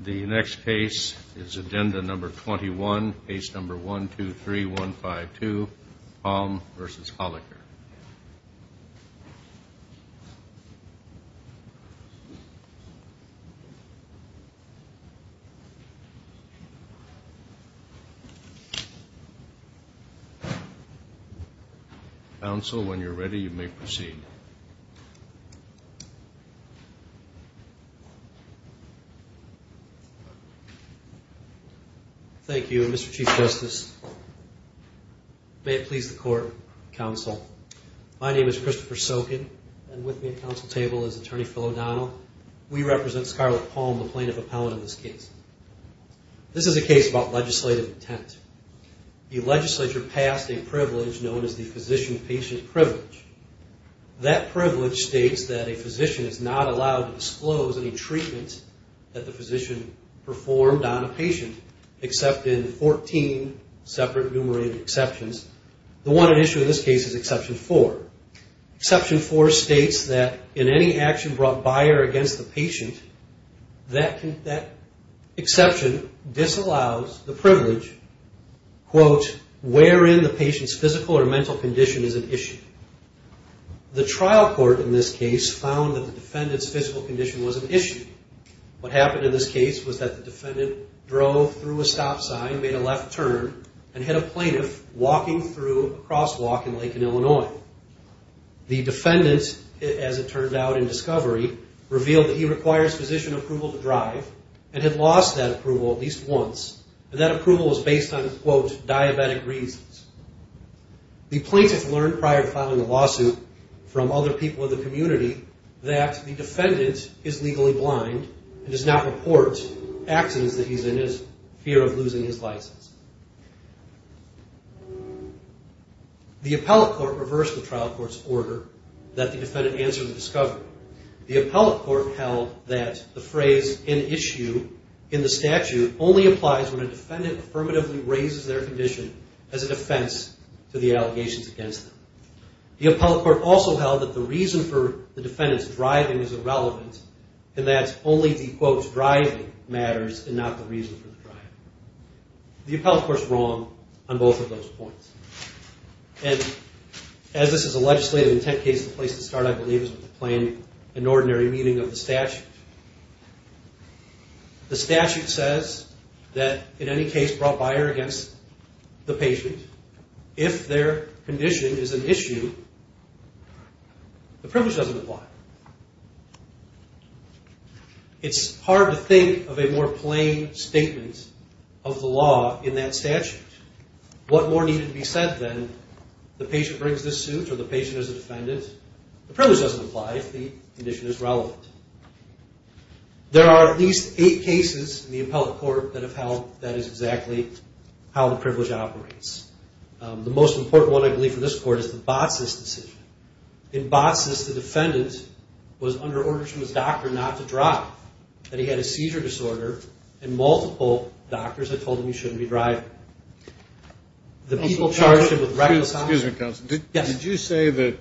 The next case is agenda number 21, case number 123152, Palm v. Holocker. Counsel, when you're ready, you may proceed. Thank you, Mr. Chief Justice. May it please the court, counsel. My name is Christopher Sokin, and with me at the counsel table is Attorney Phil O'Donnell. We represent Scarlett Palm, the plaintiff appellant in this case. This is a case about legislative intent. The privilege states that a physician is not allowed to disclose any treatment that the physician performed on a patient, except in 14 separate, enumerated exceptions. The one at issue in this case is exception 4. Exception 4 states that in any action brought by or against the patient, that exception disallows the privilege, quote, wherein the patient's physical or mental condition is at issue. The trial court in this case found that the defendant's physical condition was at issue. What happened in this case was that the defendant drove through a stop sign, made a left turn, and hit a plaintiff walking through a crosswalk in Lincoln, Illinois. The defendant, as it turned out in discovery, revealed that he requires physician approval to drive and had lost that approval at least once, and that approval was based on, quote, diabetic reasons. The plaintiff learned prior to filing a lawsuit from other people in the community that the defendant is legally blind and does not report accidents that he's in as fear of losing his license. The appellate court reversed the trial court's order that the defendant answered in discovery. The appellate court held that the phrase, in issue, in the defense to the allegations against them. The appellate court also held that the reason for the defendant's driving is irrelevant, and that only the, quote, driving matters and not the reason for the driving. The appellate court's wrong on both of those points. And as this is a legislative intent case, the place to start, I believe, is with the plain and ordinary meaning of the statute. The patient, if their condition is an issue, the privilege doesn't apply. It's hard to think of a more plain statement of the law in that statute. What more needed to be said than the patient brings this suit or the patient is a defendant? The privilege doesn't apply if the condition is relevant. There are at least eight cases in the appellate court that have held that is exactly how the privilege operates. The most important one, I believe, for this court is the BOTSIS decision. In BOTSIS, the defendant was under order from his doctor not to drive, that he had a seizure disorder, and multiple doctors had told him he shouldn't be driving. The people charged him with reckless driving. Excuse me, counsel. Did you say that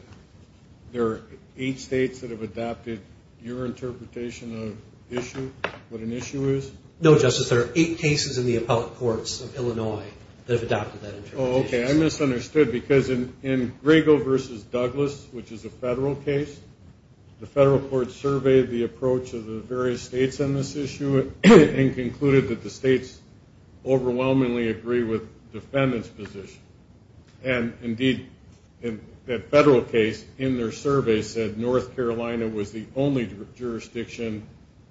there are eight states that have adopted your interpretation of issue, what an issue is? No, Justice. There are eight cases in the appellate courts of Illinois that have adopted that interpretation. Oh, okay. I misunderstood because in Griego v. Douglas, which is a federal case, the federal court surveyed the approach of the various states on this issue and concluded that the states overwhelmingly agree with the defendant's position. And indeed, that federal case in their survey said North Carolina was the only jurisdiction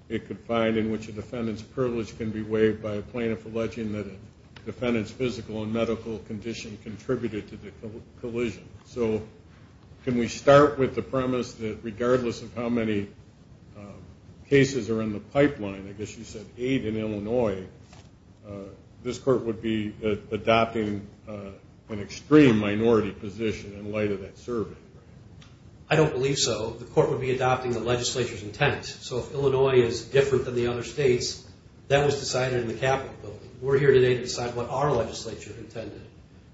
it could find in which a defendant's privilege can be waived by a plaintiff alleging that a defendant's physical and medical condition contributed to the collision. So can we start with the premise that regardless of how many cases are in the pipeline, I guess you said eight in Illinois, this court would be adopting an extreme minority position in light of that survey? I don't believe so. The court would be adopting the legislature's intent. So if Illinois is different than the other states, that was decided in the Capitol building. We're here today to decide what our legislature intended.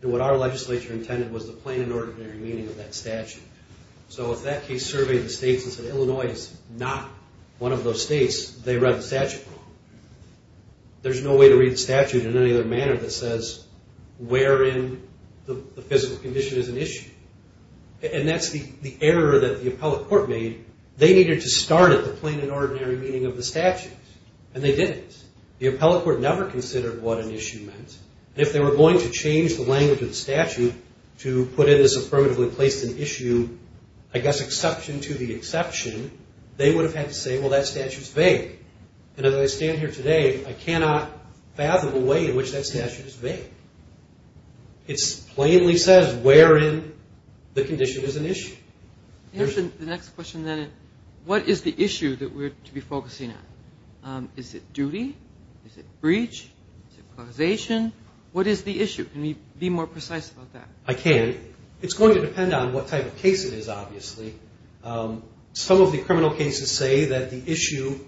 And what our legislature intended was the plain and ordinary meaning of that statute. So if that case surveyed the states and said Illinois is not one of those states, they read the statute wrong. There's no way to read the statute in any other manner that says wherein the physical condition is an issue. And that's the error that the appellate court made. They needed to start at the plain and ordinary meaning of the statute. And they didn't. The appellate court never considered what an issue meant. If they were going to change the language of the statute to put it as affirmatively placed an issue, I guess exception to the exception, they would have had to say, well, that statute's vague. And as I stand here today, I cannot fathom a way in which that statute is that says wherein the condition is an issue. Here's the next question, then. What is the issue that we're to be focusing on? Is it duty? Is it breach? Is it causation? What is the issue? Can you be more precise about that? I can. It's going to depend on what type of case it is, obviously. Some of the criminal cases say that the issue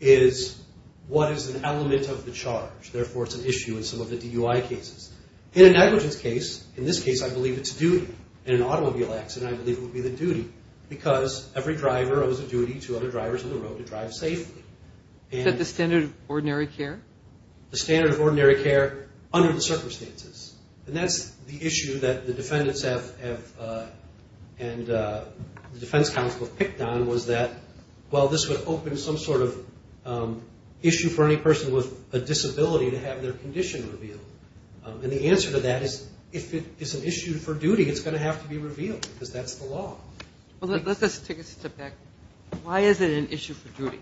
is what is an element of the charge. Therefore, it's an issue in some of the DUI cases. In a negligence case, in this case, I believe it's duty. In an automobile accident, I believe it would be the duty because every driver owes a duty to other drivers on the road to drive safely. Is that the standard of ordinary care? The standard of ordinary care under the circumstances. And that's the issue that the defendants have and the defense counsel have picked on was that, well, this would open some sort of And the answer to that is if it's an issue for duty, it's going to have to be revealed because that's the law. Well, let's take a step back. Why is it an issue for duty?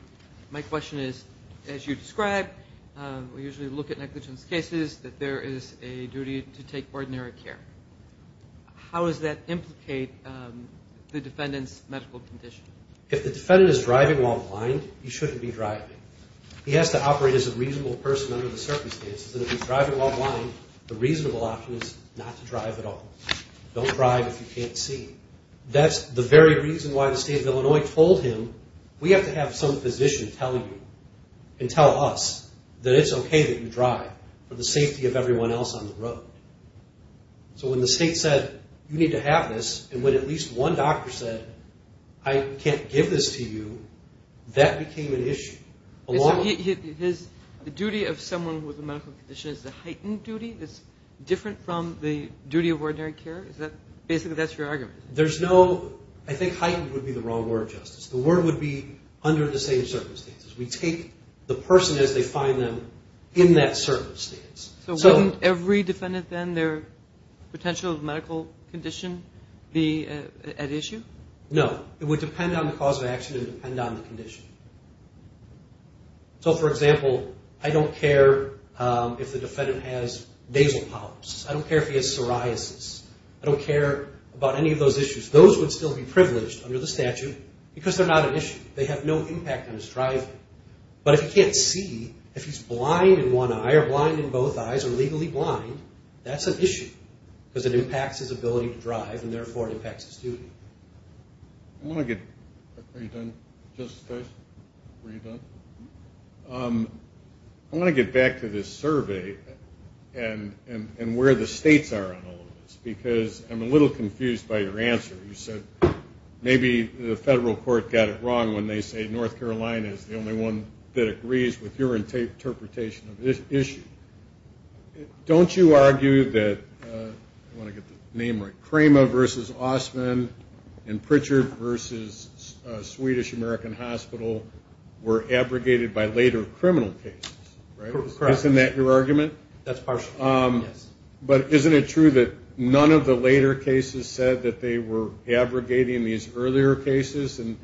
My question is, as you describe, we usually look at negligence cases that there is a duty to take ordinary care. How does that implicate the defendant's medical condition? If the defendant is driving while blind, he shouldn't be driving. He has to operate as a reasonable person under the circumstances. And if he's driving while blind, the reasonable option is not to drive at all. Don't drive if you can't see. That's the very reason why the state of Illinois told him, we have to have some physician tell you and tell us that it's okay that you drive for the safety of everyone else on the road. So when the state said, you need to have this, and when at least one doctor said, I can't give this to you, that became an issue. So the duty of someone with a medical condition is a heightened duty that's different from the duty of ordinary care? Basically, that's your argument? There's no, I think heightened would be the wrong word, Justice. The word would be under the same circumstances. We take the person as they find them in that circumstance. So wouldn't every defendant then, their potential medical condition be at issue? No. It would depend on the cause of action and depend on the condition. So for example, I don't care if the defendant has nasal polyps. I don't care if he has psoriasis. I don't care about any of those issues. Those would still be privileged under the statute because they're not an issue. They have no impact on his driving. But if he can't see, if he's blind in one eye or blind in both eyes or legally blind, that's an issue because it impacts his ability to drive and therefore it impacts his duty. I want to get back to this survey and where the states are on all of this because I'm a little confused by your answer. You said maybe the federal court got it wrong when they say North Carolina is the only one that agrees with your interpretation of this issue. Don't you argue that, I want to get the name right, Cramer v. Ossman and Pritchard v. Swedish American Hospital were abrogated by later criminal cases. Isn't that your argument? That's partially, yes. But isn't it true that none of the later cases said that they were abrogating these earlier cases? And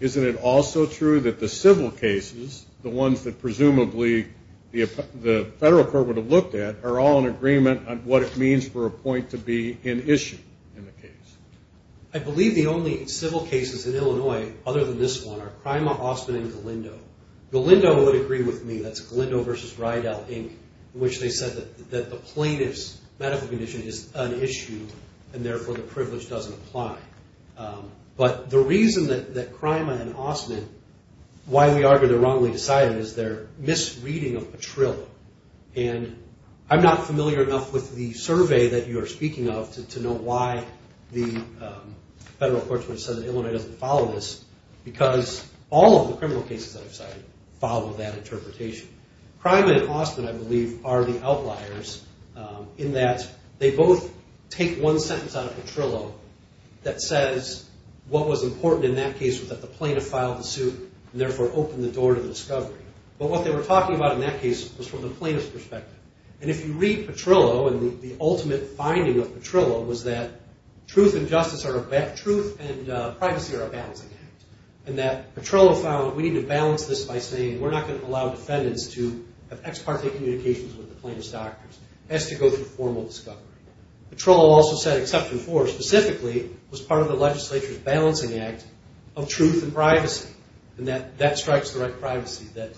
isn't it also true that the civil cases, the ones that presumably the federal court would have looked at, are all in agreement on what it means for a point to be an issue in the case? I believe the only civil cases in Illinois other than this one are Cramer, Ossman, and Galindo. Galindo would agree with me. That's Galindo v. Rydell, Inc., in which they said that the plaintiff's medical condition is an issue and therefore the privilege doesn't apply. But the reason that Cramer and Ossman, why we argue they're wrongly decided is their misreading of Petrillo. And I'm not familiar enough with the survey that you are speaking of to know why the federal courts would have said that Illinois doesn't follow this because all of the criminal cases that I've cited follow that interpretation. Cramer and Ossman, I believe, are the outliers in that they both take one sentence out of Petrillo that says what was important in that case was that the plaintiff filed the suit and therefore opened the door to the discovery. But what they were talking about in that case was from the plaintiff's perspective. And if you read Petrillo and the ultimate finding of Petrillo was that truth and justice are a balance, truth and privacy are a balancing act. And that Petrillo found we need to balance this by saying we're not going to allow defendants to have ex parte communications with the plaintiff's doctors. It has to go through formal discovery. Petrillo also said exception four specifically was part of the legislature's balancing act of truth and privacy. And that strikes the right privacy that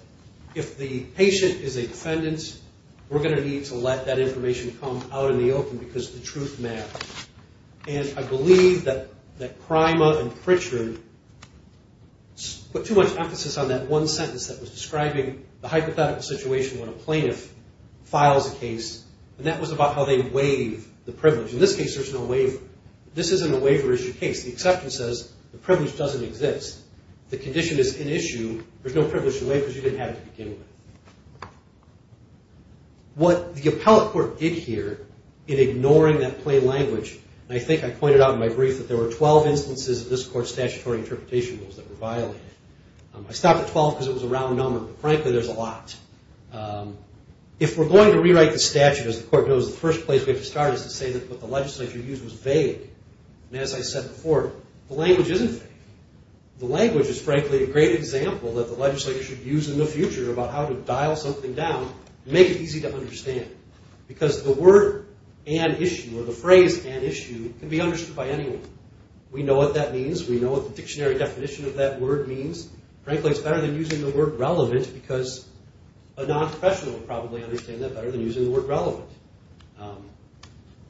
if the patient is a defendant, we're going to need to let that information come out in the open because the truth matters. And I believe that Cramer and Pritchard put too much emphasis on that one sentence that was describing the hypothetical situation when a plaintiff filed a case and that was about how they waive the privilege. In this case there's no waiver. This isn't a waiver issue case. The exception says the privilege doesn't exist. The condition is an issue. There's no privilege to waive because you didn't have it to begin with. What the appellate court did here in ignoring that plain language and I think I pointed out in my brief that there were 12 instances of this court's statutory interpretation rules that were violated. I stopped at 12 because it was a round number, but frankly there's a lot. If we're going to answer, as the court knows, the first place we have to start is to say that what the legislature used was vague. And as I said before, the language isn't vague. The language is frankly a great example that the legislature should use in the future about how to dial something down and make it easy to understand because the word and issue or the phrase and issue can be understood by anyone. We know what that means. We know what the dictionary definition of that word means. Frankly it's better than using the word relevant because a non-professional would probably understand that better than using the word relevant.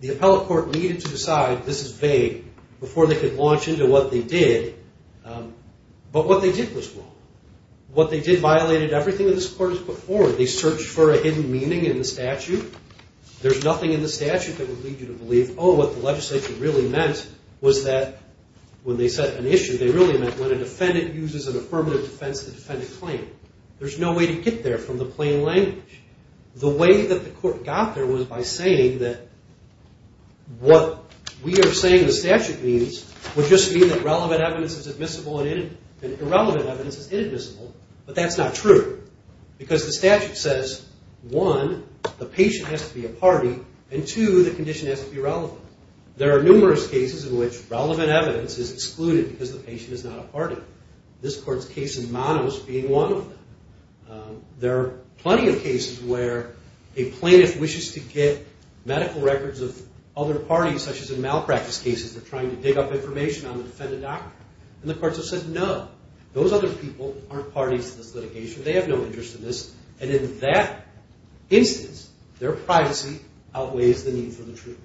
The appellate court needed to decide this is vague before they could launch into what they did, but what they did was wrong. What they did violated everything that this court has put forward. They searched for a hidden meaning in the statute. There's nothing in the statute that would lead you to believe oh, what the legislature really meant was that when they set an issue they really meant when a defendant uses an affirmative defense to defend a claim. There's no way to get there from the plain language. The way that the court got there was by saying that what we are saying the statute means would just mean that relevant evidence is admissible and irrelevant evidence is inadmissible, but that's not true because the statute says one, the patient has to be a party and two, the condition has to be relevant. There are numerous cases in which relevant evidence is excluded because the patient is not a party. This court's case in Manos being one of them. There are plenty of cases where a plaintiff wishes to get medical records of other parties such as in malpractice cases. They're trying to dig up information on the defendant doctor and the courts have said no. Those other people aren't parties to this litigation. They have no interest in this and in that instance their privacy outweighs the need for the truth.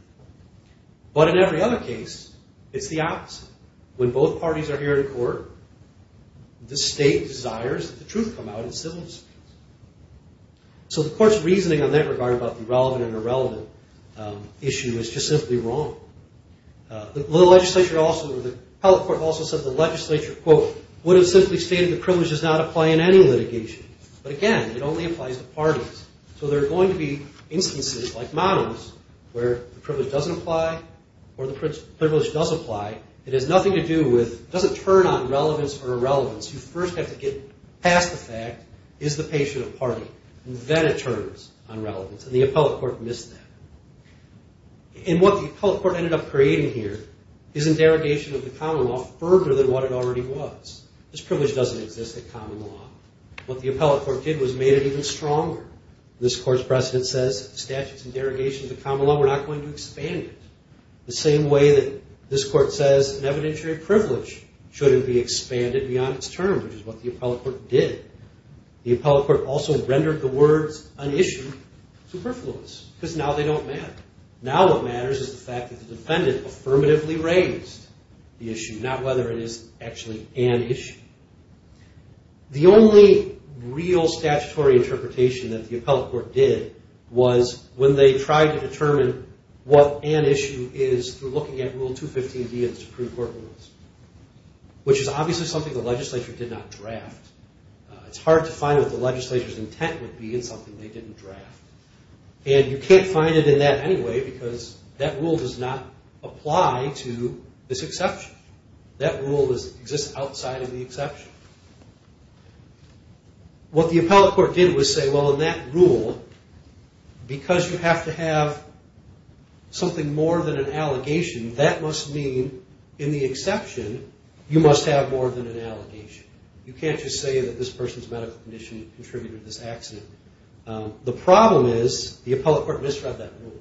But in every other case it's the opposite. When both parties are here in court, the state desires that the truth come out in civil disputes. So the court's reasoning on that regard about the relevant and irrelevant issue is just simply wrong. The legislature also, the appellate court also said the legislature, quote, would have simply stated the privilege does not apply in any litigation. But again, it only applies to parties. So there are going to be instances like Manos where the privilege doesn't apply or the privilege does apply. It has nothing to do with, it doesn't turn on relevance or irrelevance. You first have to get past the fact, is the patient a party? And then it turns on relevance and the appellate court missed that. And what the appellate court ended up creating here is a derogation of the common law further than what it already was. This privilege doesn't exist in common law. What the appellate court did was made it even stronger. This court's precedent says statutes and derogations of common law, we're not going to expand it the same way that this court says an evidentiary privilege shouldn't be expanded beyond its term, which is what the appellate court did. The appellate court also rendered the words unissued superfluous because now they don't matter. Now what matters is the fact that the privilege is unissued. The only real statutory interpretation that the appellate court did was when they tried to determine what an issue is through looking at Rule 215D of the Supreme Court Rules, which is obviously something the legislature did not draft. It's hard to find what the legislature's intent would be in something they didn't draft. And you can't find it in that anyway because that rule does not apply to this exception. That rule exists outside of the exception. What the appellate court did was say, well in that rule, because you have to have something more than an allegation, that must mean in the exception you must have more than an allegation. You can't just say that this person's medical condition contributed to this accident. The problem is the appellate court misread that rule.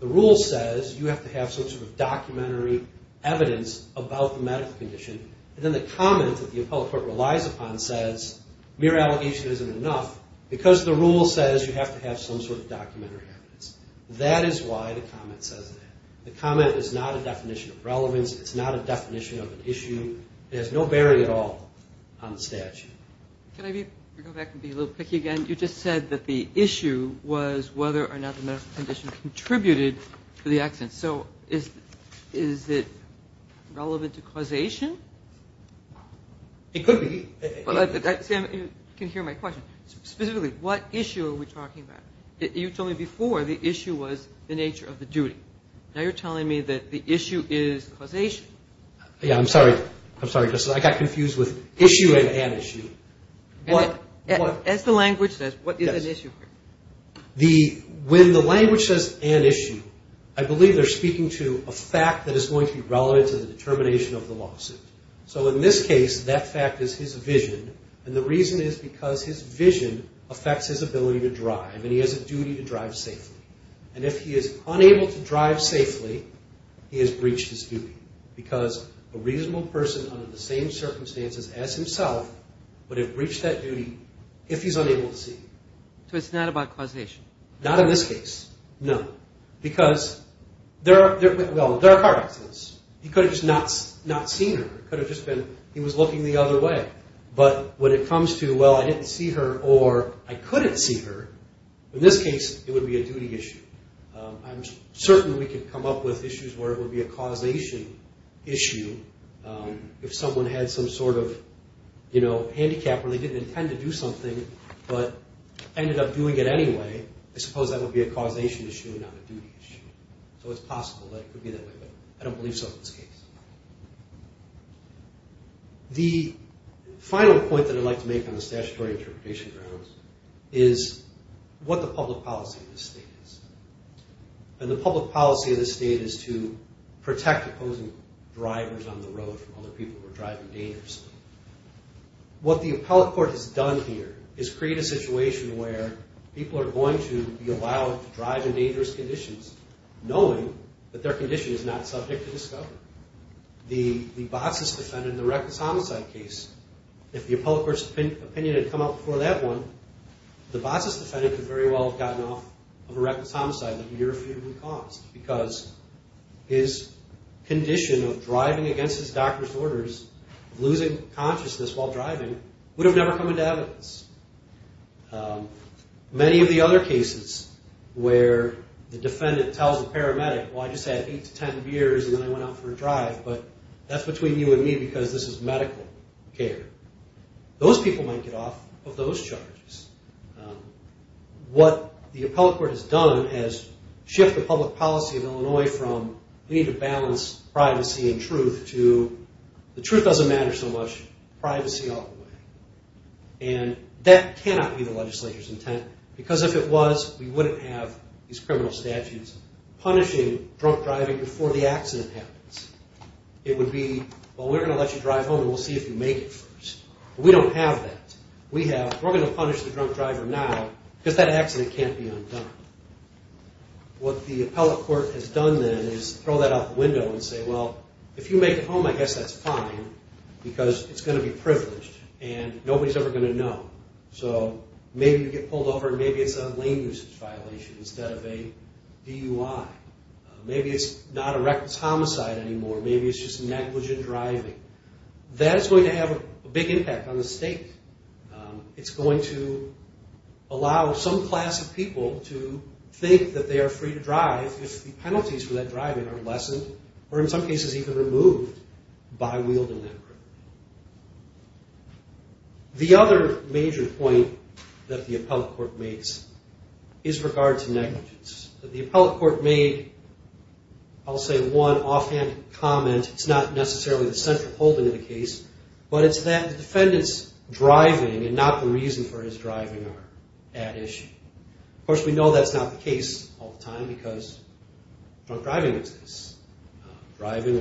The rule says you have to have some sort of documentary evidence about the medical condition. And then the comment that the appellate court relies upon says mere allegation isn't enough because the rule says you have to have some sort of documentary evidence. That is why the comment says that. The comment is not a definition of relevance. It's not a definition of an issue. There's no barrier at all on the statute. You just said that the issue was whether or not the medical condition contributed to the accident. So is it relevant to causation? It could be. You can hear my question. Specifically, what issue are we talking about? You told me before the issue was the nature of the duty. Now you're telling me that the issue is causation. I'm sorry, Justice. I got confused with issue and an issue. As the language says, what is an issue? When the language says an issue, I believe they're speaking to a fact that is going to be relevant to the determination of the lawsuit. So in this case, that fact is his vision. And the reason is because his vision affects his ability to drive and he has a duty to drive safely. And if he is unable to drive safely, he has breached his duty. Because a reasonable person under the same circumstances as himself would have breached that duty if he's unable to see. So it's not about causation? Not in this case, no. Because there are accidents. He could have just not seen her. He was looking the other way. But when it comes to, well, I didn't see her or I couldn't see her, in this case, it would be a duty issue. I'm certain we could come up with issues where it would be a causation issue if someone had some sort of handicap where they didn't intend to do something but ended up doing it anyway, I suppose that would be a causation issue, not a duty issue. So it's possible that it could be that way, but I don't believe so in this case. The final point that I'd like to make on the statutory interpretation grounds is what the public policy of this state is. And the public policy of this state is to protect opposing drivers on the road from other people who are driving dangerously. What the appellate court has done here is create a situation where people are going to be allowed to drive in dangerous conditions knowing that their condition is not subject to discovery. The boss's defendant in the reckless homicide case, if the appellate court's opinion had come out before that one, the boss's defendant could very well have gotten off of a reckless driver's orders of losing consciousness while driving, would have never come into evidence. Many of the other cases where the defendant tells the paramedic, well, I just had 8 to 10 beers and then I went out for a drive, but that's between you and me because this is medical care. Those people might get off of those charges. What the appellate court has done is shift the public policy of Illinois from we need to balance privacy and truth to the truth doesn't matter so much, privacy all the way. And that cannot be the legislature's intent. Because if it was, we wouldn't have these criminal statutes punishing drunk driving before the accident happens. It would be, well, we're going to let you drive home and we'll see if you make it first. We don't have that. We're going to punish the drunk driver now because that accident can't be undone. What the appellate court has done then is throw that out the window and say, well, if you make it home, I guess that's fine because it's going to be privileged and nobody's ever going to know. So maybe you get pulled over and maybe it's a lane usage violation instead of a DUI. Maybe it's not a reckless homicide anymore. Maybe it's just negligent driving. That's going to have a big impact on the state. It's going to allow some class of people to think that they are free to drive if the penalties for that driving are lessened or in some cases even removed by wielding that grip. The other major point that the appellate court makes is regard to negligence. The appellate court made, I'll say one offhand comment. It's not necessarily the central holding of the case, but it's that the defendant's driving and not the reason for his driving are at issue. Of course, we know that's not the case all the time because drunk driving exists. Drunk driving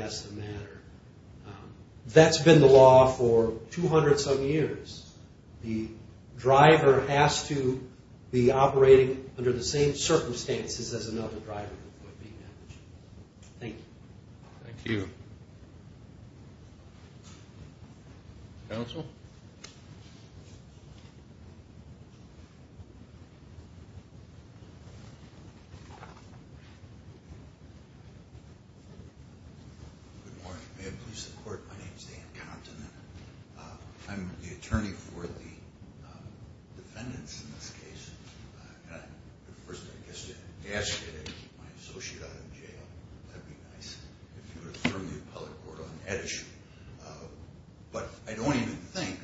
has to matter. That's been the law for 200 some years. The driver has to be operating under the same circumstances as another driver. Thank you. Counsel? Good morning. May I please have the court. My name is Dan Compton. I'm the attorney for the defendants in this case. First I guess to ask you to keep my associate out of jail. But I don't even think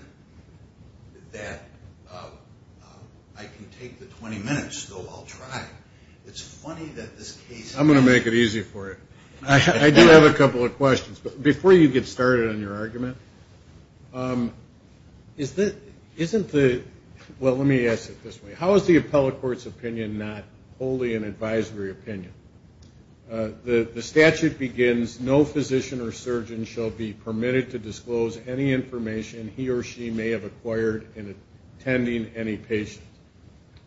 that I can take the 20 minutes I'm going to make it easy for you. I do have a couple of questions. Before you get started on your argument, how is the appellate court's opinion not wholly an advisory opinion? The statute begins, no physician or surgeon shall be permitted to disclose any information he or she may have acquired in attending any patient.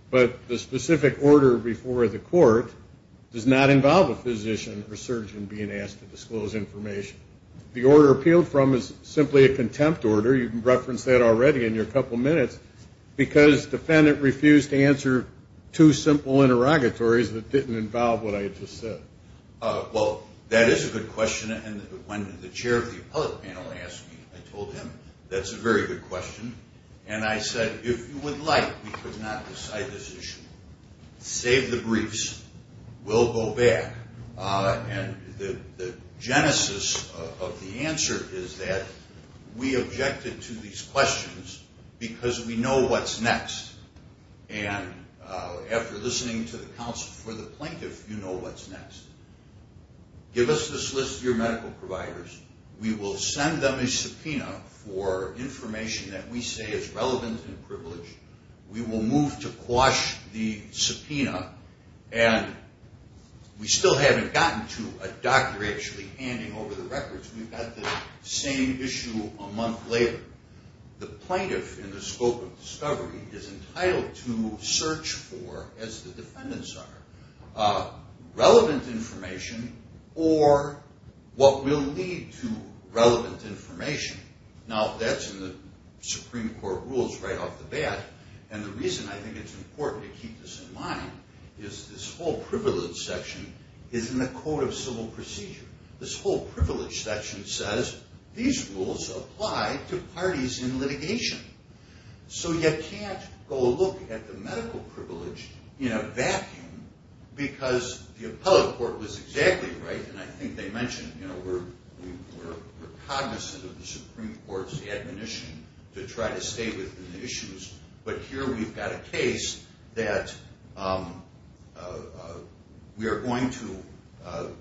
But the specific order before the court does not involve a physician or surgeon being asked to disclose information. The order appealed from is simply a contempt order. You referenced that already in your couple minutes. Because the defendant refused to answer two simple interrogatories that didn't involve what I just said. Well, that is a good question. And when the chair of the appellate panel asked me, I told him that's a very good question. And I said, if you would like, we could not decide this issue. Save the briefs. We'll go back. And the genesis of the answer is that we objected to these questions because we know what's next. And after listening to the counsel for the plaintiff, you know what's next. Give us this list of your medical providers. We will send them a subpoena for information that we say is relevant and privileged. We will move to quash the subpoena. And we still haven't gotten to a doctor actually handing over the records. We've got the same issue a month later. The plaintiff in the scope of discovery is entitled to search for, as the defendants are, relevant information or what will lead to relevant information. Now that's in the Supreme Court rules right off the bat. And the reason I think it's important to keep this in mind is this whole privilege section is in the Code of Civil Procedure. This whole privilege section says these rules apply to parties in litigation. So you can't go look at the medical privilege in a vacuum because the appellate court was exactly right. And I think they mentioned we're cognizant of the Supreme Court's admonition to try to stay within the issues. But here we've got a case that we are going to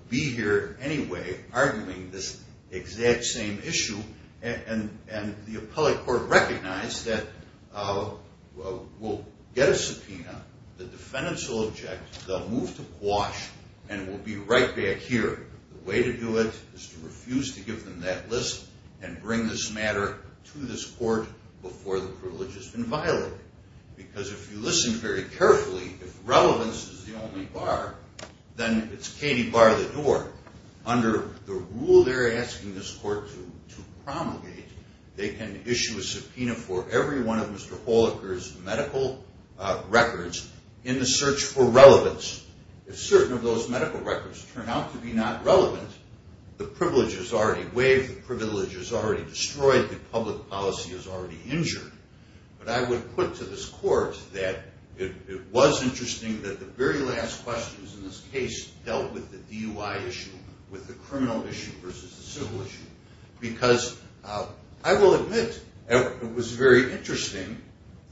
be here anyway arguing this exact same issue. And the appellate court recognized that we'll get a subpoena. The defendants will object. They'll move to quash. And we'll be the only bar to this court before the privilege has been violated. Because if you listen very carefully, if relevance is the only bar, then it's Katie bar the door. Under the rule they're asking this court to promulgate, they can issue a subpoena for every one of Mr. Holaker's medical records in the search for relevance. If certain of those medical records turn out to be not relevant, the privilege is already waived, the privilege is already destroyed, the public policy is already injured. But I would put to this court that it was interesting that the very last questions in this case dealt with the DUI issue, with the criminal issue versus the civil issue. Because I will admit it was very interesting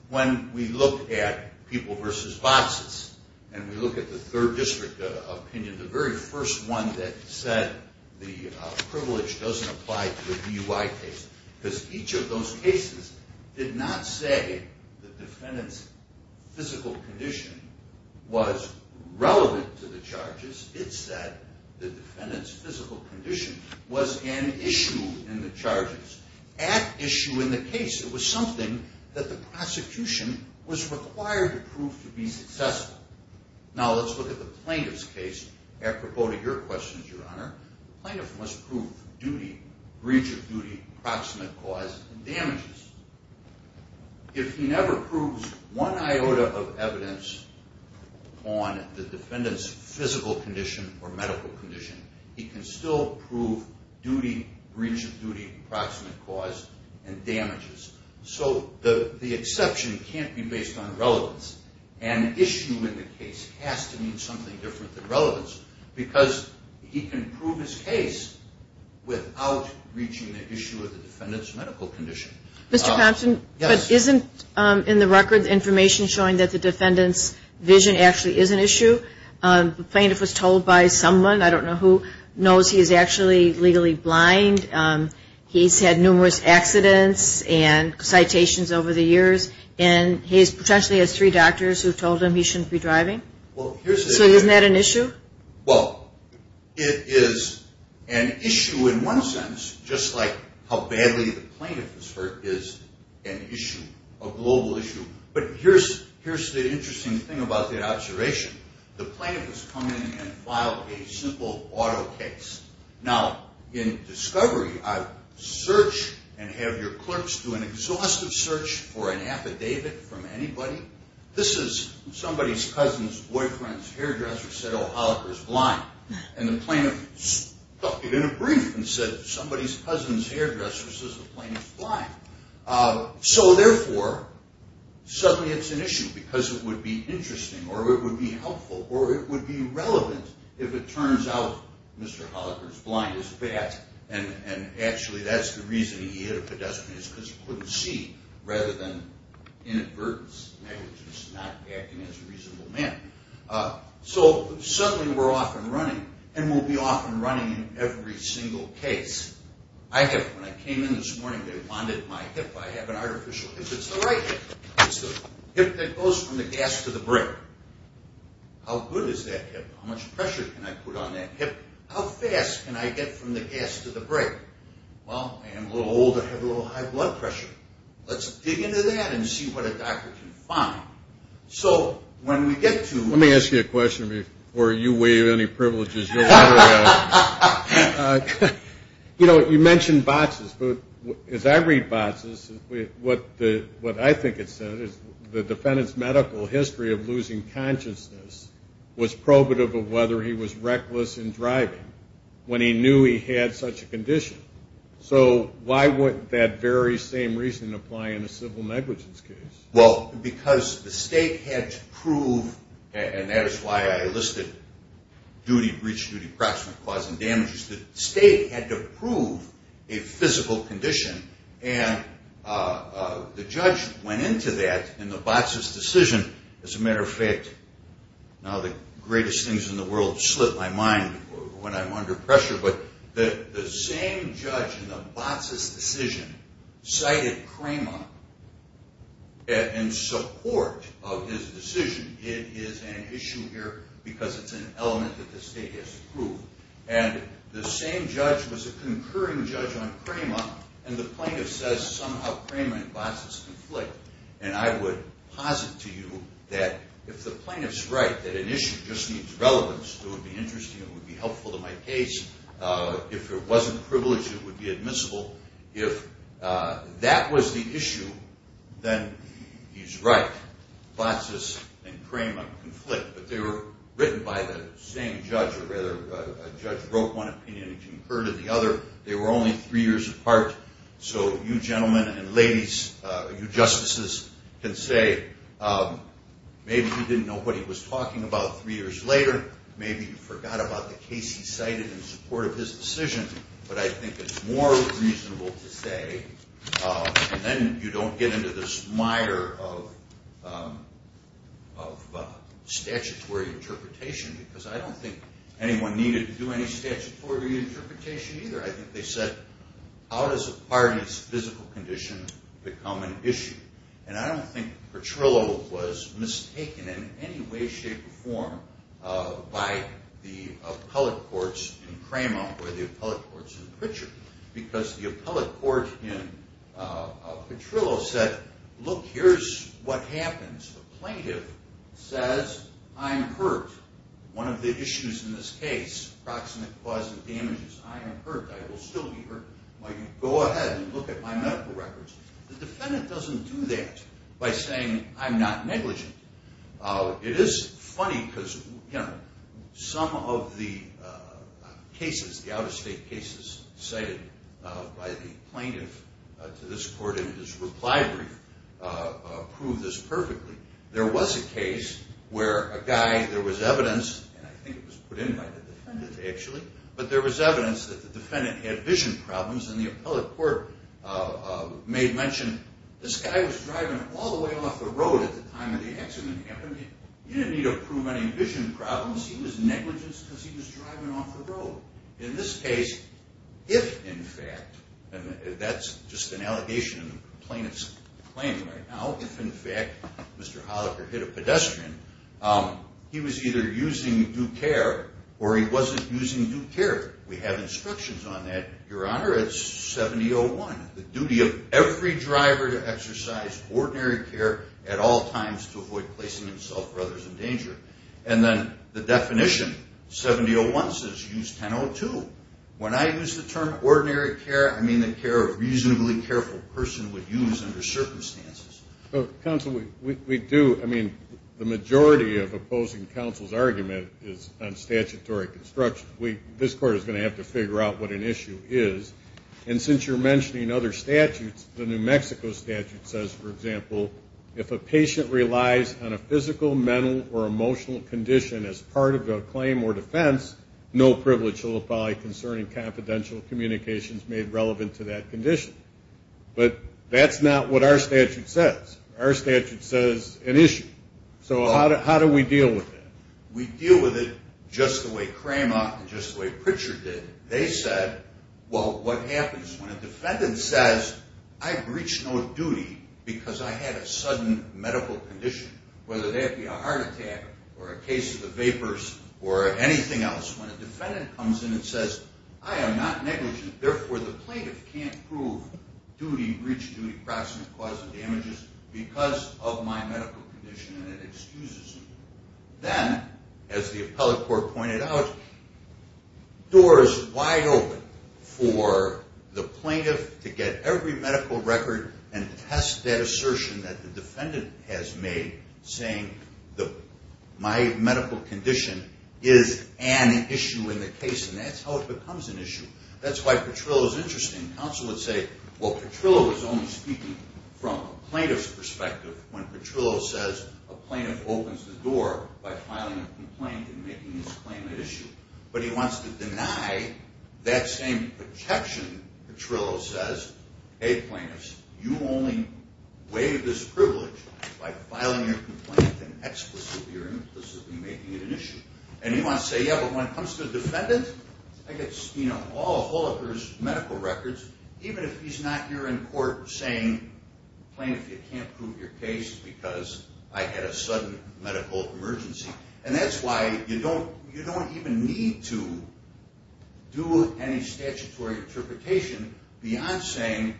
when we looked at people versus boxes. And we look at the third district opinion, the very first one that said the privilege doesn't apply to the DUI case. Because each of those cases did not say the defendant's physical condition was relevant to the charges. It said the defendant's physical condition was an exception, was required to prove to be successful. Now let's look at the plaintiff's case. Your questions, Your Honor. The plaintiff must prove breach of duty, proximate cause, and damages. If he never proves one iota of evidence on the defendant's physical condition or medical condition, he can still prove duty, breach of duty, proximate cause, and damages. So the exception can't be based on relevance. An issue in the case has to mean something different than relevance. Because he can prove his case without reaching the issue of the defendant's medical condition. Mr. Thompson, but isn't in the record the information showing that the defendant's vision actually is an issue? The plaintiff was told by someone, I don't know who, knows he's actually legally blind. He's had numerous accidents and citations over the years. And he potentially has three doctors who told him he shouldn't be driving. So isn't that an issue? Well, it is an issue in one sense, just like how badly the plaintiff was hurt is an issue, a global issue. But here's the interesting thing about that observation. The plaintiff has come in and filed a simple auto case. Now, in discovery, I search and have your clerks do an exhaustive search for an affidavit from anybody. This is somebody's cousin's boyfriend's hairdresser said, oh, Holliker's blind. And the plaintiff stuck it in a brief and said, somebody's cousin's hairdresser says the plaintiff's blind. So therefore, suddenly it's an issue because it would be interesting or it would be helpful or it would be relevant if it turns out Mr. Holliker's blind as a bat and actually that's the reason he hit a pedestrian is because he couldn't see rather than inadvertence. Which is not acting as a reasonable man. So suddenly we're off and running. And we'll be off and running in every single case. I have, when I came in this morning, they bonded my hip. I have an artificial hip. It's the right hip. It's the hip that goes from the gas to the brake. How good is that hip? How much pressure can I put on that hip? How fast can I get from the gas to the brake? Well, I am a little old. I have a little high blood pressure. Let's dig into that and see what a doctor can find. So when we get to... Let me ask you a question before you waive any privileges. You know, you mentioned botches, but as I read botches, what I think it said is the defendant's medical history of losing consciousness was probative of whether he was reckless in driving when he knew he had such a condition. So why would that very same reason apply in a civil negligence case? Well, because the state had to prove, and that is why I listed duty, breach of duty, approximate cause and damages. The state had to prove a physical condition. And the judge went into that in the botches decision. As a matter of fact, now the greatest things in the world slip my mind when I'm under pressure, but the same judge in the botches decision cited Cramer in support of his decision. It is an issue here because it's an element that the state has to prove. And the same judge was a concurring judge on Cramer, and the plaintiff says somehow Cramer and botches conflict. And I would posit to you that if the plaintiff's right that an issue just needs relevance, it would be interesting, it would be helpful to my case. If it wasn't privileged, it would be admissible. If that was the issue, then he's right. Botches and Cramer conflict. But they were written by the same judge, or rather a judge wrote one opinion and concurred to the other. They were only three years apart. So you gentlemen and ladies, you justices can say, maybe you didn't know what he was talking about three years later. Maybe you forgot about the case he cited in support of his decision. But I think it's more reasonable to say, then you don't get into this mire of statutory interpretation. Because I don't think anyone needed to do any statutory interpretation either. I think they said how does a pardon's physical condition become an issue? And I don't think Petrillo was mistaken in any way, shape, or form by the appellate courts in Cramer or the appellate courts in Pritchard. Because the appellate court in Petrillo said, look, here's what happens. The plaintiff says, I'm hurt. One of the issues in this case, proximate cause of damage is I am hurt. I will still be hurt. Go ahead and look at my medical records. The defendant doesn't do that by saying I'm not negligent. It is funny because some of the cases, the out-of-state cases cited by the plaintiff to this court in his reply brief prove this perfectly. There was a case where a guy, there was evidence that the defendant had vision problems and the appellate court made mention this guy was driving all the way off the road at the time of the accident happened. He didn't need to prove any vision problems. He was negligent because he was driving off the road. In this case, if in fact, and that's just an allegation in the plaintiff's claim right now, if in fact Mr. Holliker hit a pedestrian, he was either using due care or he wasn't using due care. We have instructions on that. Your Honor, it's 70-01. The duty of every driver to exercise ordinary care at all times to avoid placing himself or others in danger. And then the definition, 70-01 says use 10-02. When I use the term ordinary care, I mean the care a reasonably careful person would use under circumstances. Counsel, we do, I mean, the majority of opposing counsel's argument is on statutory construction. This court is going to have to figure out what an issue is. And since you're mentioning other statutes, the New Mexico statute says, for example, if a patient relies on a physical, mental, or emotional condition as part of a claim or defense, no privilege shall apply concerning confidential communications made relevant to that condition. But that's not what our statute says. Our statute says an issue. So how do we deal with that? We deal with it just the way Cramart and just the way Pritchard did. They said, well, what happens when a defendant says, I've reached no duty because I had a sudden medical condition, whether that be a heart attack or a case of the vapors or anything else, when a defendant comes in and says, I am not negligent, therefore the plaintiff can't prove duty, breach of duty, proximate cause of damages because of my medical condition and it excuses me. Then, as the appellate court pointed out, doors wide open for the plaintiff to get every medical record and test that assertion that the defendant has made, saying my medical condition is an issue in the case. And that's how it becomes an issue. That's why Petrillo's interesting. Counsel would say, well, Petrillo was only speaking from a plaintiff's perspective when Petrillo says a plaintiff opens the door by filing a complaint and making this claim an issue. But he wants to deny that same objection Petrillo says, hey, plaintiffs, you only waive this privilege by filing your complaint and explicitly or implicitly making it an issue. And he wants to say, yeah, but when it comes to the defendant, I get all of Holaker's medical records even if he's not here in court saying, plaintiff, you can't prove your case because I had a sudden medical emergency. And that's why you don't even need to do any statutory interpretation beyond saying,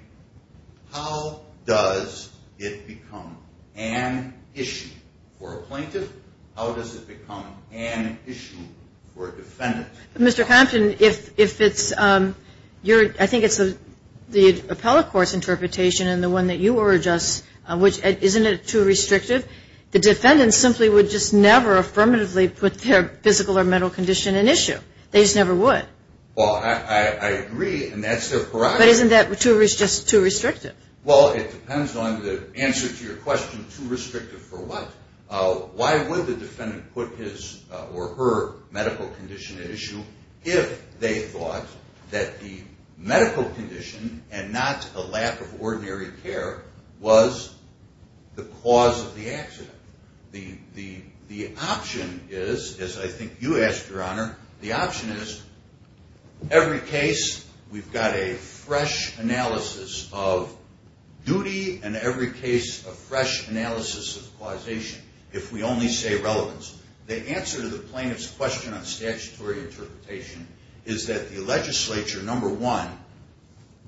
how does it become an issue for a plaintiff? How does it become an issue for a plaintiff? I think it's the appellate court's interpretation and the one that you urge us, which isn't it too restrictive? The defendant simply would just never affirmatively put their physical or mental condition at issue. They just never would. Well, I agree, and that's their prerogative. But isn't that just too restrictive? Well, it depends on the answer to your question, too restrictive for what? Why would the defendant put his or her medical condition at issue if they thought that the medical condition and not a lack of ordinary care was the cause of the accident? The option is, as I think you asked, Your Honor, the option is every case we've got a fresh analysis of duty and every case a fresh analysis of causation if we only say relevance. The answer to the plaintiff's question on statutory interpretation is that the legislature, number one,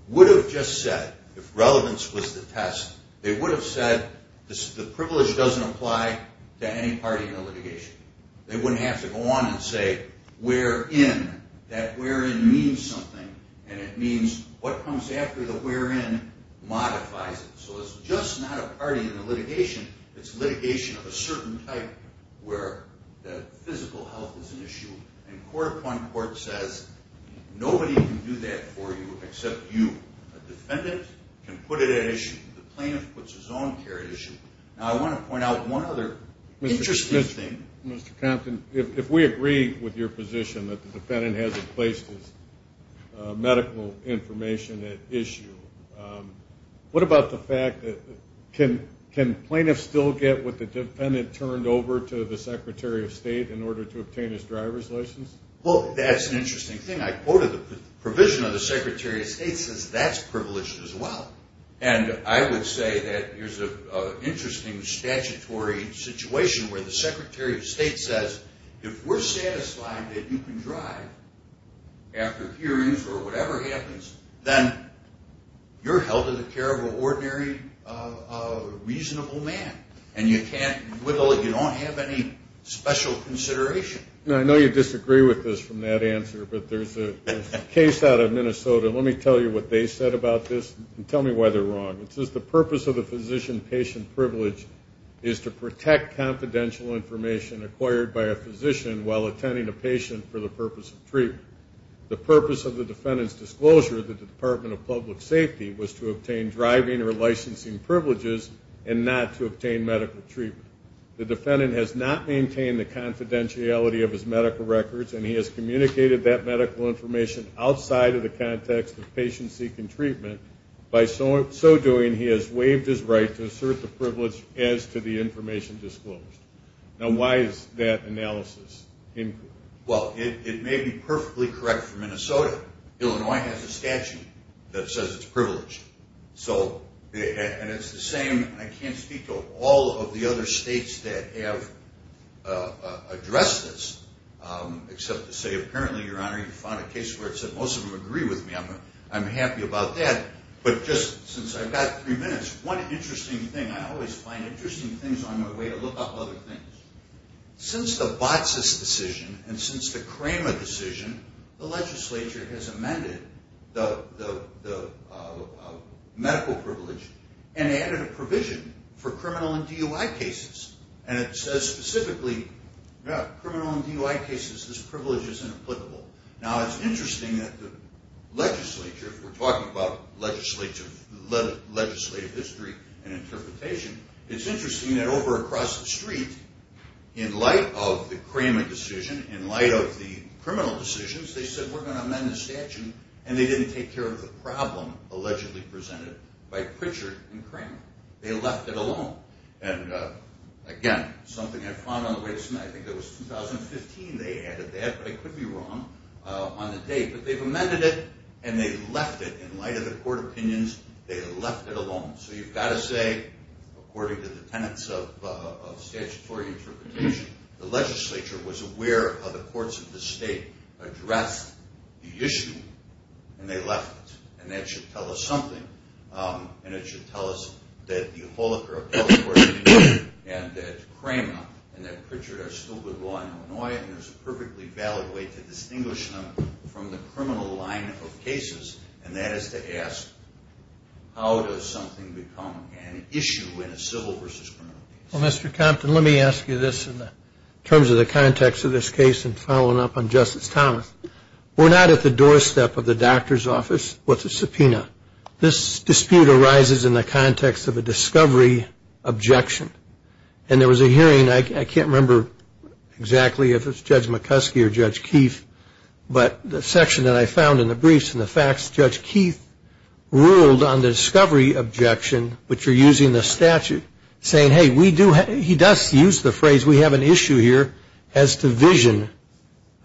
would have just said if relevance was the test, they would have said the privilege doesn't apply to any party in the litigation. They wouldn't have to go on and say wherein. That wherein means something, and it means what comes after the wherein modifies it. So it's just not a party in the litigation. It's litigation of a certain type where the physical health is an issue, and court upon court says nobody can do that for you except you. A defendant can put it at issue. The plaintiff puts his own care at issue. Now I want to point out one other interesting thing. Mr. Compton, if we agree with your position that the defendant hasn't placed his medical information at issue, what about the fact that can plaintiffs still get what the defendant turned over to the Secretary of State in order to obtain his driver's license? Well, that's an interesting thing. I quoted the provision of the Secretary of State says that's privileged as well, and I would say that there's an interesting statutory situation where the Secretary of State says if we're satisfied that you can drive after hearings or whatever happens, then you're held to the care of an ordinary, reasonable man, and you can't, you don't have any special consideration. I know you disagree with this from that answer, but there's a case out of Minnesota. Let me tell you what they said about this, and tell me why they're wrong. It says the purpose of the physician patient privilege is to protect confidential information acquired by a physician while attending a patient for the purpose of treatment. The purpose of the defendant's disclosure to the Department of Public Safety was to obtain driving or licensing privileges and not to obtain medical treatment. The defendant has not maintained the confidentiality of his medical records, and he has communicated that medical information outside of the context of patient seeking treatment. By so doing, he has waived his right to assert the privilege as to the information disclosed. Now why is that analysis incorrect? Well, it may be perfectly correct for Minnesota. Illinois has a statute that says it's privileged. So, and it's the same, I can't speak to all of the other states that have addressed this, except to say apparently, Your Honor, you found a case where it said most of them agree with me. I'm happy about that, but just since I've got three minutes, one interesting thing I always find interesting things on my way to look up other things. Since the BOTSIS decision, and since the CREMA decision, the legislature has amended the medical privilege and added a provision for criminal and DUI cases. And it says specifically, criminal and DUI cases, this privilege is inapplicable. Now it's interesting that the over across the street, in light of the CREMA decision, in light of the criminal decisions, they said we're going to amend the statute, and they didn't take care of the problem allegedly presented by Pritchard and CREMA. They left it alone. And again, something I found on the way to tonight, I think it was 2015 they added that, but I could be wrong on the date, but they've amended it and they left it, in light of the court opinions, they left it alone. So you've got to say, according to the tenants of statutory interpretation, the legislature was aware of how the courts of the state addressed the issue, and they left it. And that should tell us something. And it should tell us that the appellate court opinion and that CREMA and that Pritchard are a perfectly valid way to distinguish them from the criminal line of cases, and that is to ask, how does something become an issue in a civil versus criminal case? Well, Mr. Compton, let me ask you this in terms of the context of this case and following up on Justice Thomas. We're not at the doorstep of the doctor's office with a subpoena. This dispute arises in the context of a discovery objection. And there was a hearing, I can't remember, I think it was the exactly if it was Judge McCuskey or Judge Keefe, but the section that I found in the briefs and the facts, Judge Keefe ruled on the discovery objection, which you're using the statute, saying, hey, we do have, he does use the phrase, we have an issue here as to vision,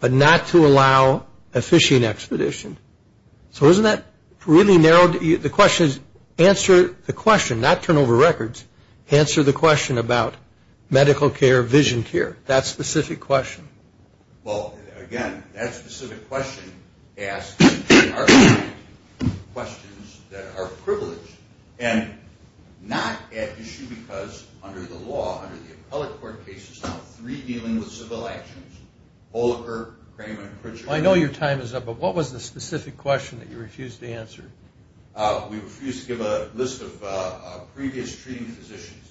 but not to allow a fishing expedition. So isn't that really narrowed, the question is, answer the question, not turn over records, answer the question about medical care, vision care. That's the subpoena. Well, again, that specific question asks questions that are privileged and not at issue, because under the law, under the appellate court case, there's now three dealing with civil actions. I know your time is up, but what was the specific question that you refused to answer? We refused to give a list of previous treating physicians.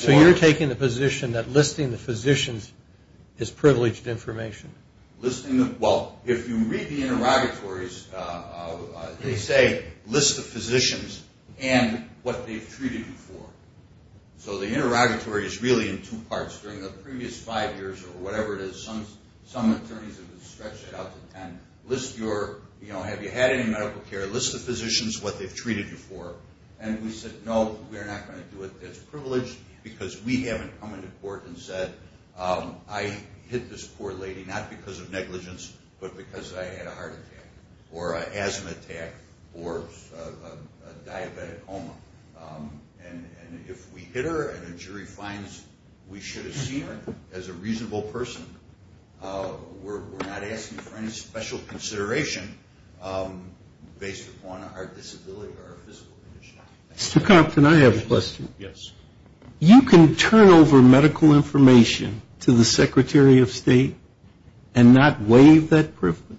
So you're taking the position that listing the physicians is privileged information? Well, if you read the interrogatories, they say list the physicians and what they've treated you for. So the interrogatory is really in two parts. During the previous five years or whatever it is, some attorneys have stretched it out to ten. List your, have you had any medical care, list the physicians, what they've treated you for. And we said, no, we're not going to do it. It's privileged, because we haven't come into court and said, I hit this poor lady not because of negligence, but because I had a heart attack or an asthma attack or a diabetic coma. And if we hit her and a jury finds we should have seen her as a reasonable person, we're not asking for any special consideration based upon our disability or our physical condition. Mr. Compton, I have a question. Yes. You can turn over medical information to the Secretary of State and not waive that privilege?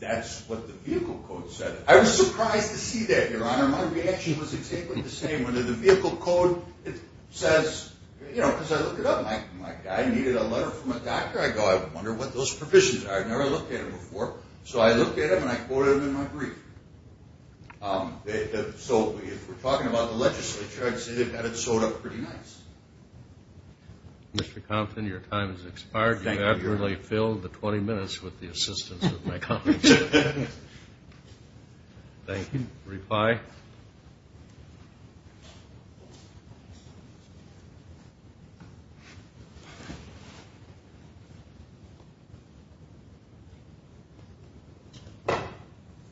That's what the vehicle code said. I was surprised to see that, Your Honor. My reaction was exactly the same. When the vehicle code says, you know, because I look it up, I'm like, I needed a letter from a doctor. I go, I wonder what those provisions are. I've never looked at them before. So I looked at them and I quoted them in my brief. So if we're talking about the legislature, I'd say they've had it sewed up pretty nice. Mr. Compton, your time has expired. You've abruptly filled the 20 minutes with the assistance of my colleagues. Thank you. Reply.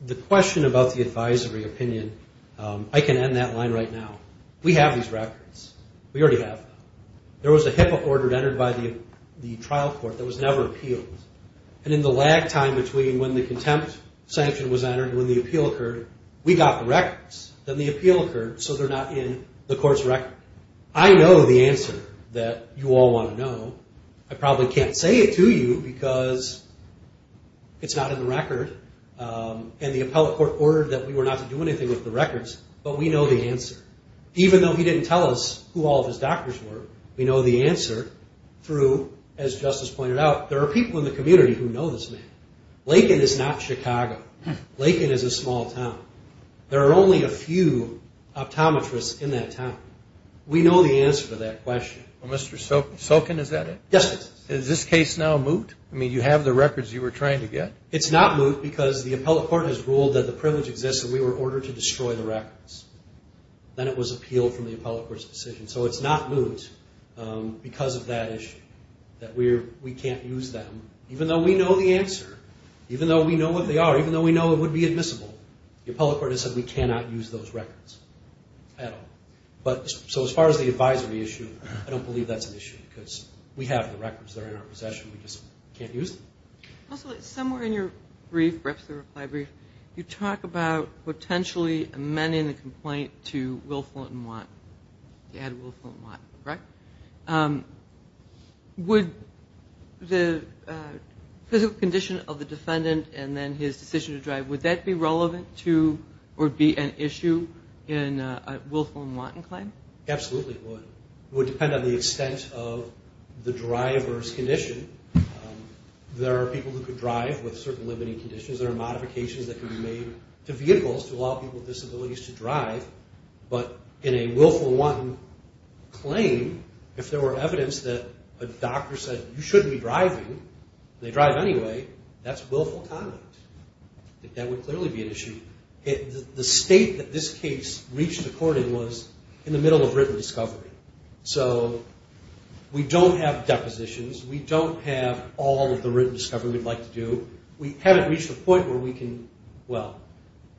The question about the advisory opinion, I can end that line right now. We have these records. We already have them. There was a HIPAA order entered by the trial court that was never appealed. And in the lag time between when the contempt sanction was entered and when the appeal occurred, we got the records. Then the appeal occurred, so they're not in the court's record. I know the answer that you all want to know. I probably can't say it to you because it's not in the record. And the appellate court ordered that we were not to do anything with the records, but we know the answer. Even though he didn't tell us who all of his doctors were, we know the answer through, as Justice pointed out, there are people in the community who know this man. Laken is not Chicago. Laken is a small town. There are only a few optometrists in that town. We know the answer to that question. Mr. Sokin, is that it? Yes, it is. Is this case now moot? I mean, you have the records you were trying to get? It's not moot because the appellate court has ruled that the privilege exists and we were ordered to destroy the records. Then it was appealed from the appellate court's decision. So it's not moot because of that issue, that we can't use them, even though we know the answer, even though we know what they are, even though we know it would be admissible. The appellate court has said we cannot use those records at all. So as far as the advisory issue, I don't believe that's an issue because we have the records that are in our possession. We just can't use them. Also, somewhere in your reply brief, you talk about potentially amending the complaint to Will Fulton Watt, to add Will Fulton Watt, correct? Would the physical condition of the defendant and then his decision to drive, would that be relevant to or be an issue in a Will Fulton Watt claim? Absolutely it would. It would depend on the extent of the driver's condition. There are people who could drive with certain limiting conditions. There are modifications that can be made to vehicles to allow people with disabilities to drive. But in a Will Fulton Watt claim, if there were evidence that a doctor said you shouldn't be driving, and they drive anyway, that's Will Fulton Watt. That would clearly be an issue. The state that this case reached the court in was in the middle of written discovery. So we don't have depositions. We don't have all of the written discovery we'd like to do. We haven't reached the point where we can, well,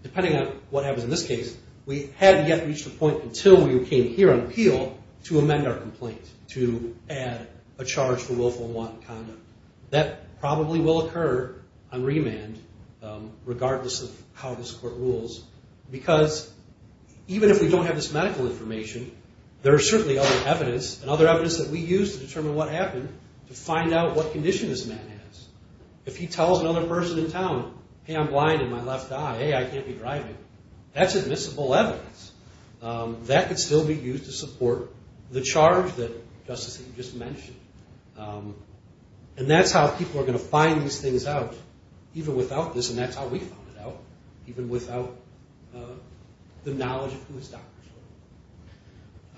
depending on what happens in this case, we haven't yet reached the point until we came here on appeal to amend our complaint, to add a charge for Will Fulton Watt conduct. That probably will occur on remand, regardless of how this court rules, because even if we don't have this medical information, there are certainly other evidence, and other evidence that we use to determine what happened, to find out what condition this man has. If he tells another person in town, hey, I'm blind in my left eye, hey, I can't be driving, that's admissible evidence. That could still be used to support the charge that Justice Eaton just mentioned. And that's how people are going to find these things out, even without this, and that's how we found it out, even without the knowledge of who his doctors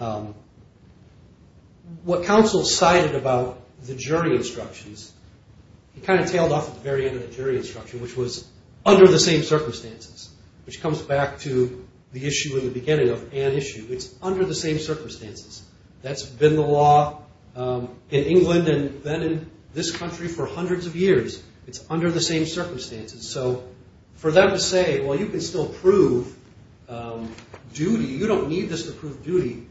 were. What counsel cited about the jury instructions, he kind of tailed off at the very end of the jury instruction, which was under the same circumstances, which comes back to the issue in the beginning of an issue. It's under the same circumstances. That's been the law in England and then in this country for hundreds of years. It's under the same circumstances, so for them to say, well, you can still prove duty, you don't need this to prove duty,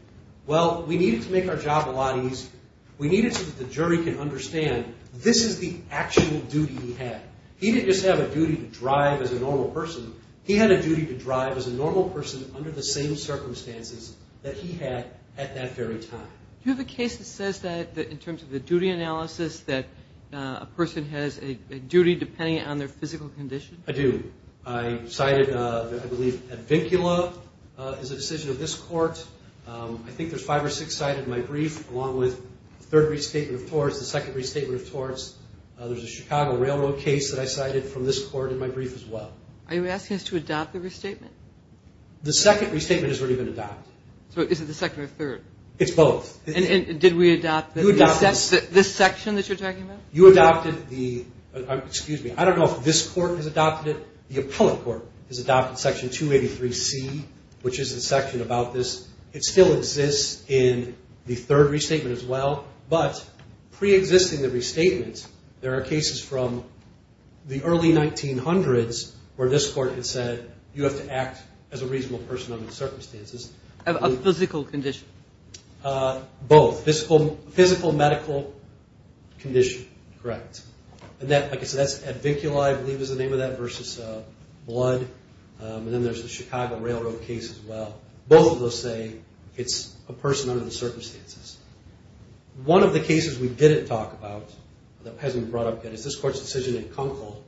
well, we need it to make our job a lot easier. We need it so that the jury can understand this is the actual duty he had. He didn't just have a duty to drive as a normal person. He had a duty to drive as a normal person under the same circumstances that he had at that very time. Do you have a case that says that, in terms of the duty analysis, that a person has a duty depending on their physical condition? I do. I cited, I believe, at Vincula is a decision of this court. I think there's five or six cited in my brief, along with the third restatement of torts, the second restatement of torts. There's a Chicago Railroad case that I cited from this court in my brief as well. Are you asking us to adopt the restatement? The second restatement has already been adopted. Is it the second or third? It's both. And did we adopt this section that you're talking about? You adopted the, excuse me, I don't know if this court has adopted it. The appellate court has adopted section 283C, which is a section about this. It still exists in the third restatement as well, but preexisting the restatement, there are cases from the early 1900s where this court had said you have to act as a reasonable person under the circumstances. A physical condition? Both. Physical medical condition, correct. And then there's the Chicago Railroad case as well. Both of those say it's a person under the circumstances. One of the cases we didn't talk about that hasn't been brought up yet is this court's decision in Kunkel,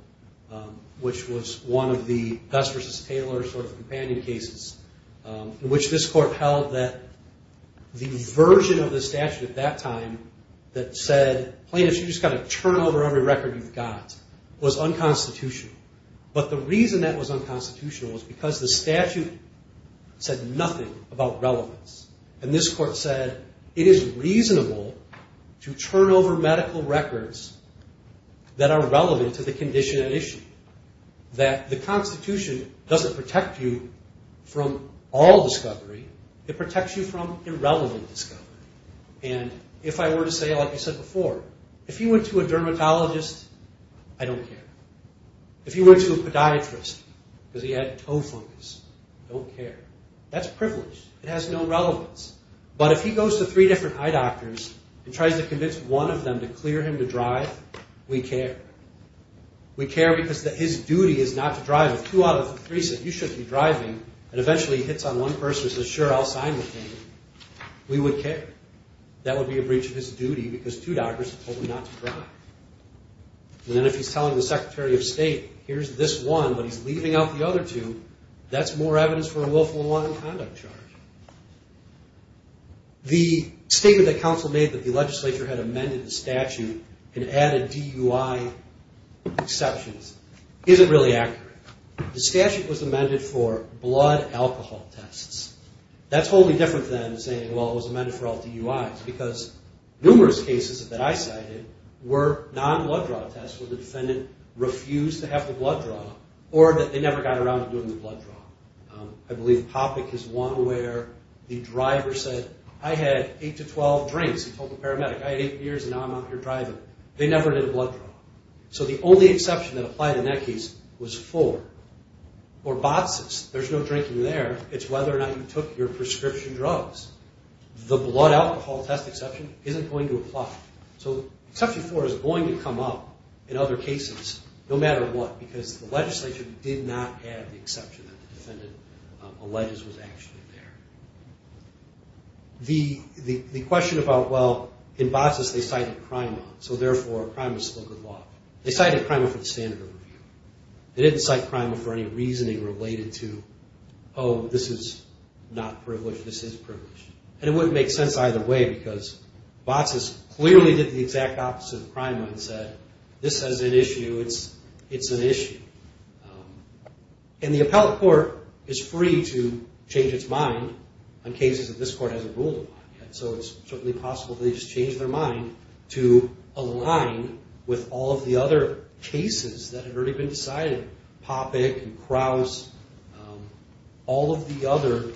which was one of the Gus v. Taylor sort of companion cases, in which this court held that the version of the statute at that time that said plaintiffs, you've just got to turn over every record you've got, was unconstitutional. But the reason that was unconstitutional was because the statute said nothing about relevance. And this court said it is reasonable to turn over medical records that are relevant to the condition at issue. That the Constitution doesn't protect you from all discovery, it protects you from irrelevant discovery. And if I were to say, like I said before, if you went to a dermatologist, I don't care. If you went to a podiatrist because he had toe fungus, I don't care. That's privileged. It has no relevance. But if he goes to three different eye doctors and tries to convince one of them to clear him to drive, we care. We care because his duty is not to drive. If two out of the three said, you shouldn't be driving, and eventually he hits on one person and says, sure, I'll sign with him, we would care. That would be a breach of his duty because two doctors told him not to drive. And then if he's telling the Secretary of State, here's this one, but he's leaving out the other two, that's more evidence for a willful and wanton conduct charge. The statement that counsel made that the legislature had amended the statute and added DUI exceptions isn't really accurate. The statute was amended for blood alcohol tests. That's wholly different than saying, well, it was amended for LTUIs because numerous cases that I cited were non-blood draw tests where the defendant refused to have the blood draw or that they never got around to doing the blood draw. I believe Hoppeck is one where the driver said, I had 8 to 12 drinks. He told the paramedic, I had 8 beers and now I'm out here driving. They never did a blood draw. So the only exception that applied in that case was 4. For BOTCIS, there's no drinking there. It's whether or not you took your prescription drugs. The blood alcohol test exception isn't going to apply. So exception 4 is going to come up in other cases no matter what because the legislature did not have the exception that the defendant alleged was actually there. The question about, well, in BOTCIS they cited CRIMA, so therefore CRIMA is still good law. They cited CRIMA for the standard of review. They didn't cite CRIMA for any reasoning related to, oh, this is not privileged, this is privileged. And it wouldn't make sense either way because BOTCIS clearly did the exact opposite of CRIMA and said, this has an issue, it's an issue. And the appellate court is free to change its mind on cases that this court hasn't ruled on yet. So it's certainly possible they just changed their mind to align with all of the other cases that have already been decided. POPIC and CROWS, all of the other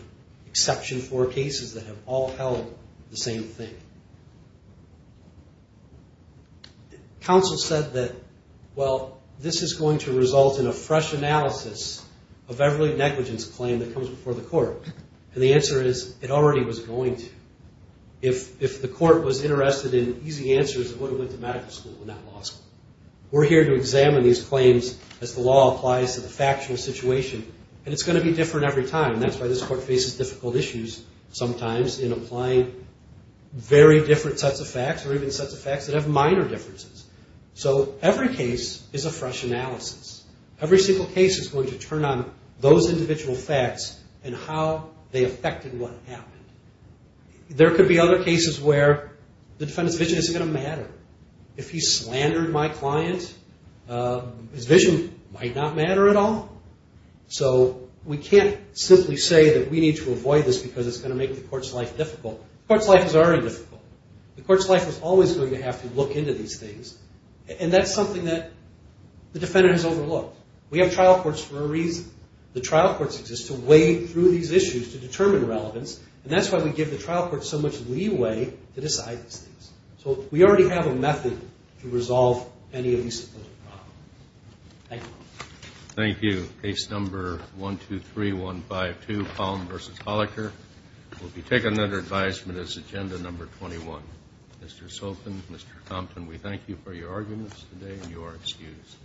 exception 4 cases that have all held the same thing. Counsel said that, well, this is going to result in a fresh analysis of every negligence claim that comes before the court. And the answer is, it already was going to. If the court was interested in easy answers, it would have went to medical school and not law school. We're here to examine these claims as the law applies to the factual situation. And it's going to be different every time. That's why this court faces difficult issues sometimes in applying very different sets of facts or even sets of facts that have minor differences. So every case is a fresh analysis. Every single case is going to turn on those individual facts and how they affected what happened. There could be other cases where the defendant's vision isn't going to matter. If he slandered my client, his vision might not matter at all. So we can't simply say that we need to avoid this because it's going to make the court's life difficult. The court's life is already difficult. The court's life is always going to have to look into these things. And that's something that the defendant has overlooked. We have trial courts for a reason. The trial courts exist to wade through these issues to determine relevance. And that's why we give the trial courts so much leeway to decide these things. So we already have a method to resolve any of these problems. Thank you. Thank you. Case number 123152, Palm v. Holliker, will be taken under advisement as agenda number 21. Mr. Sopin, Mr. Compton, we thank you for your arguments today, and you are excused.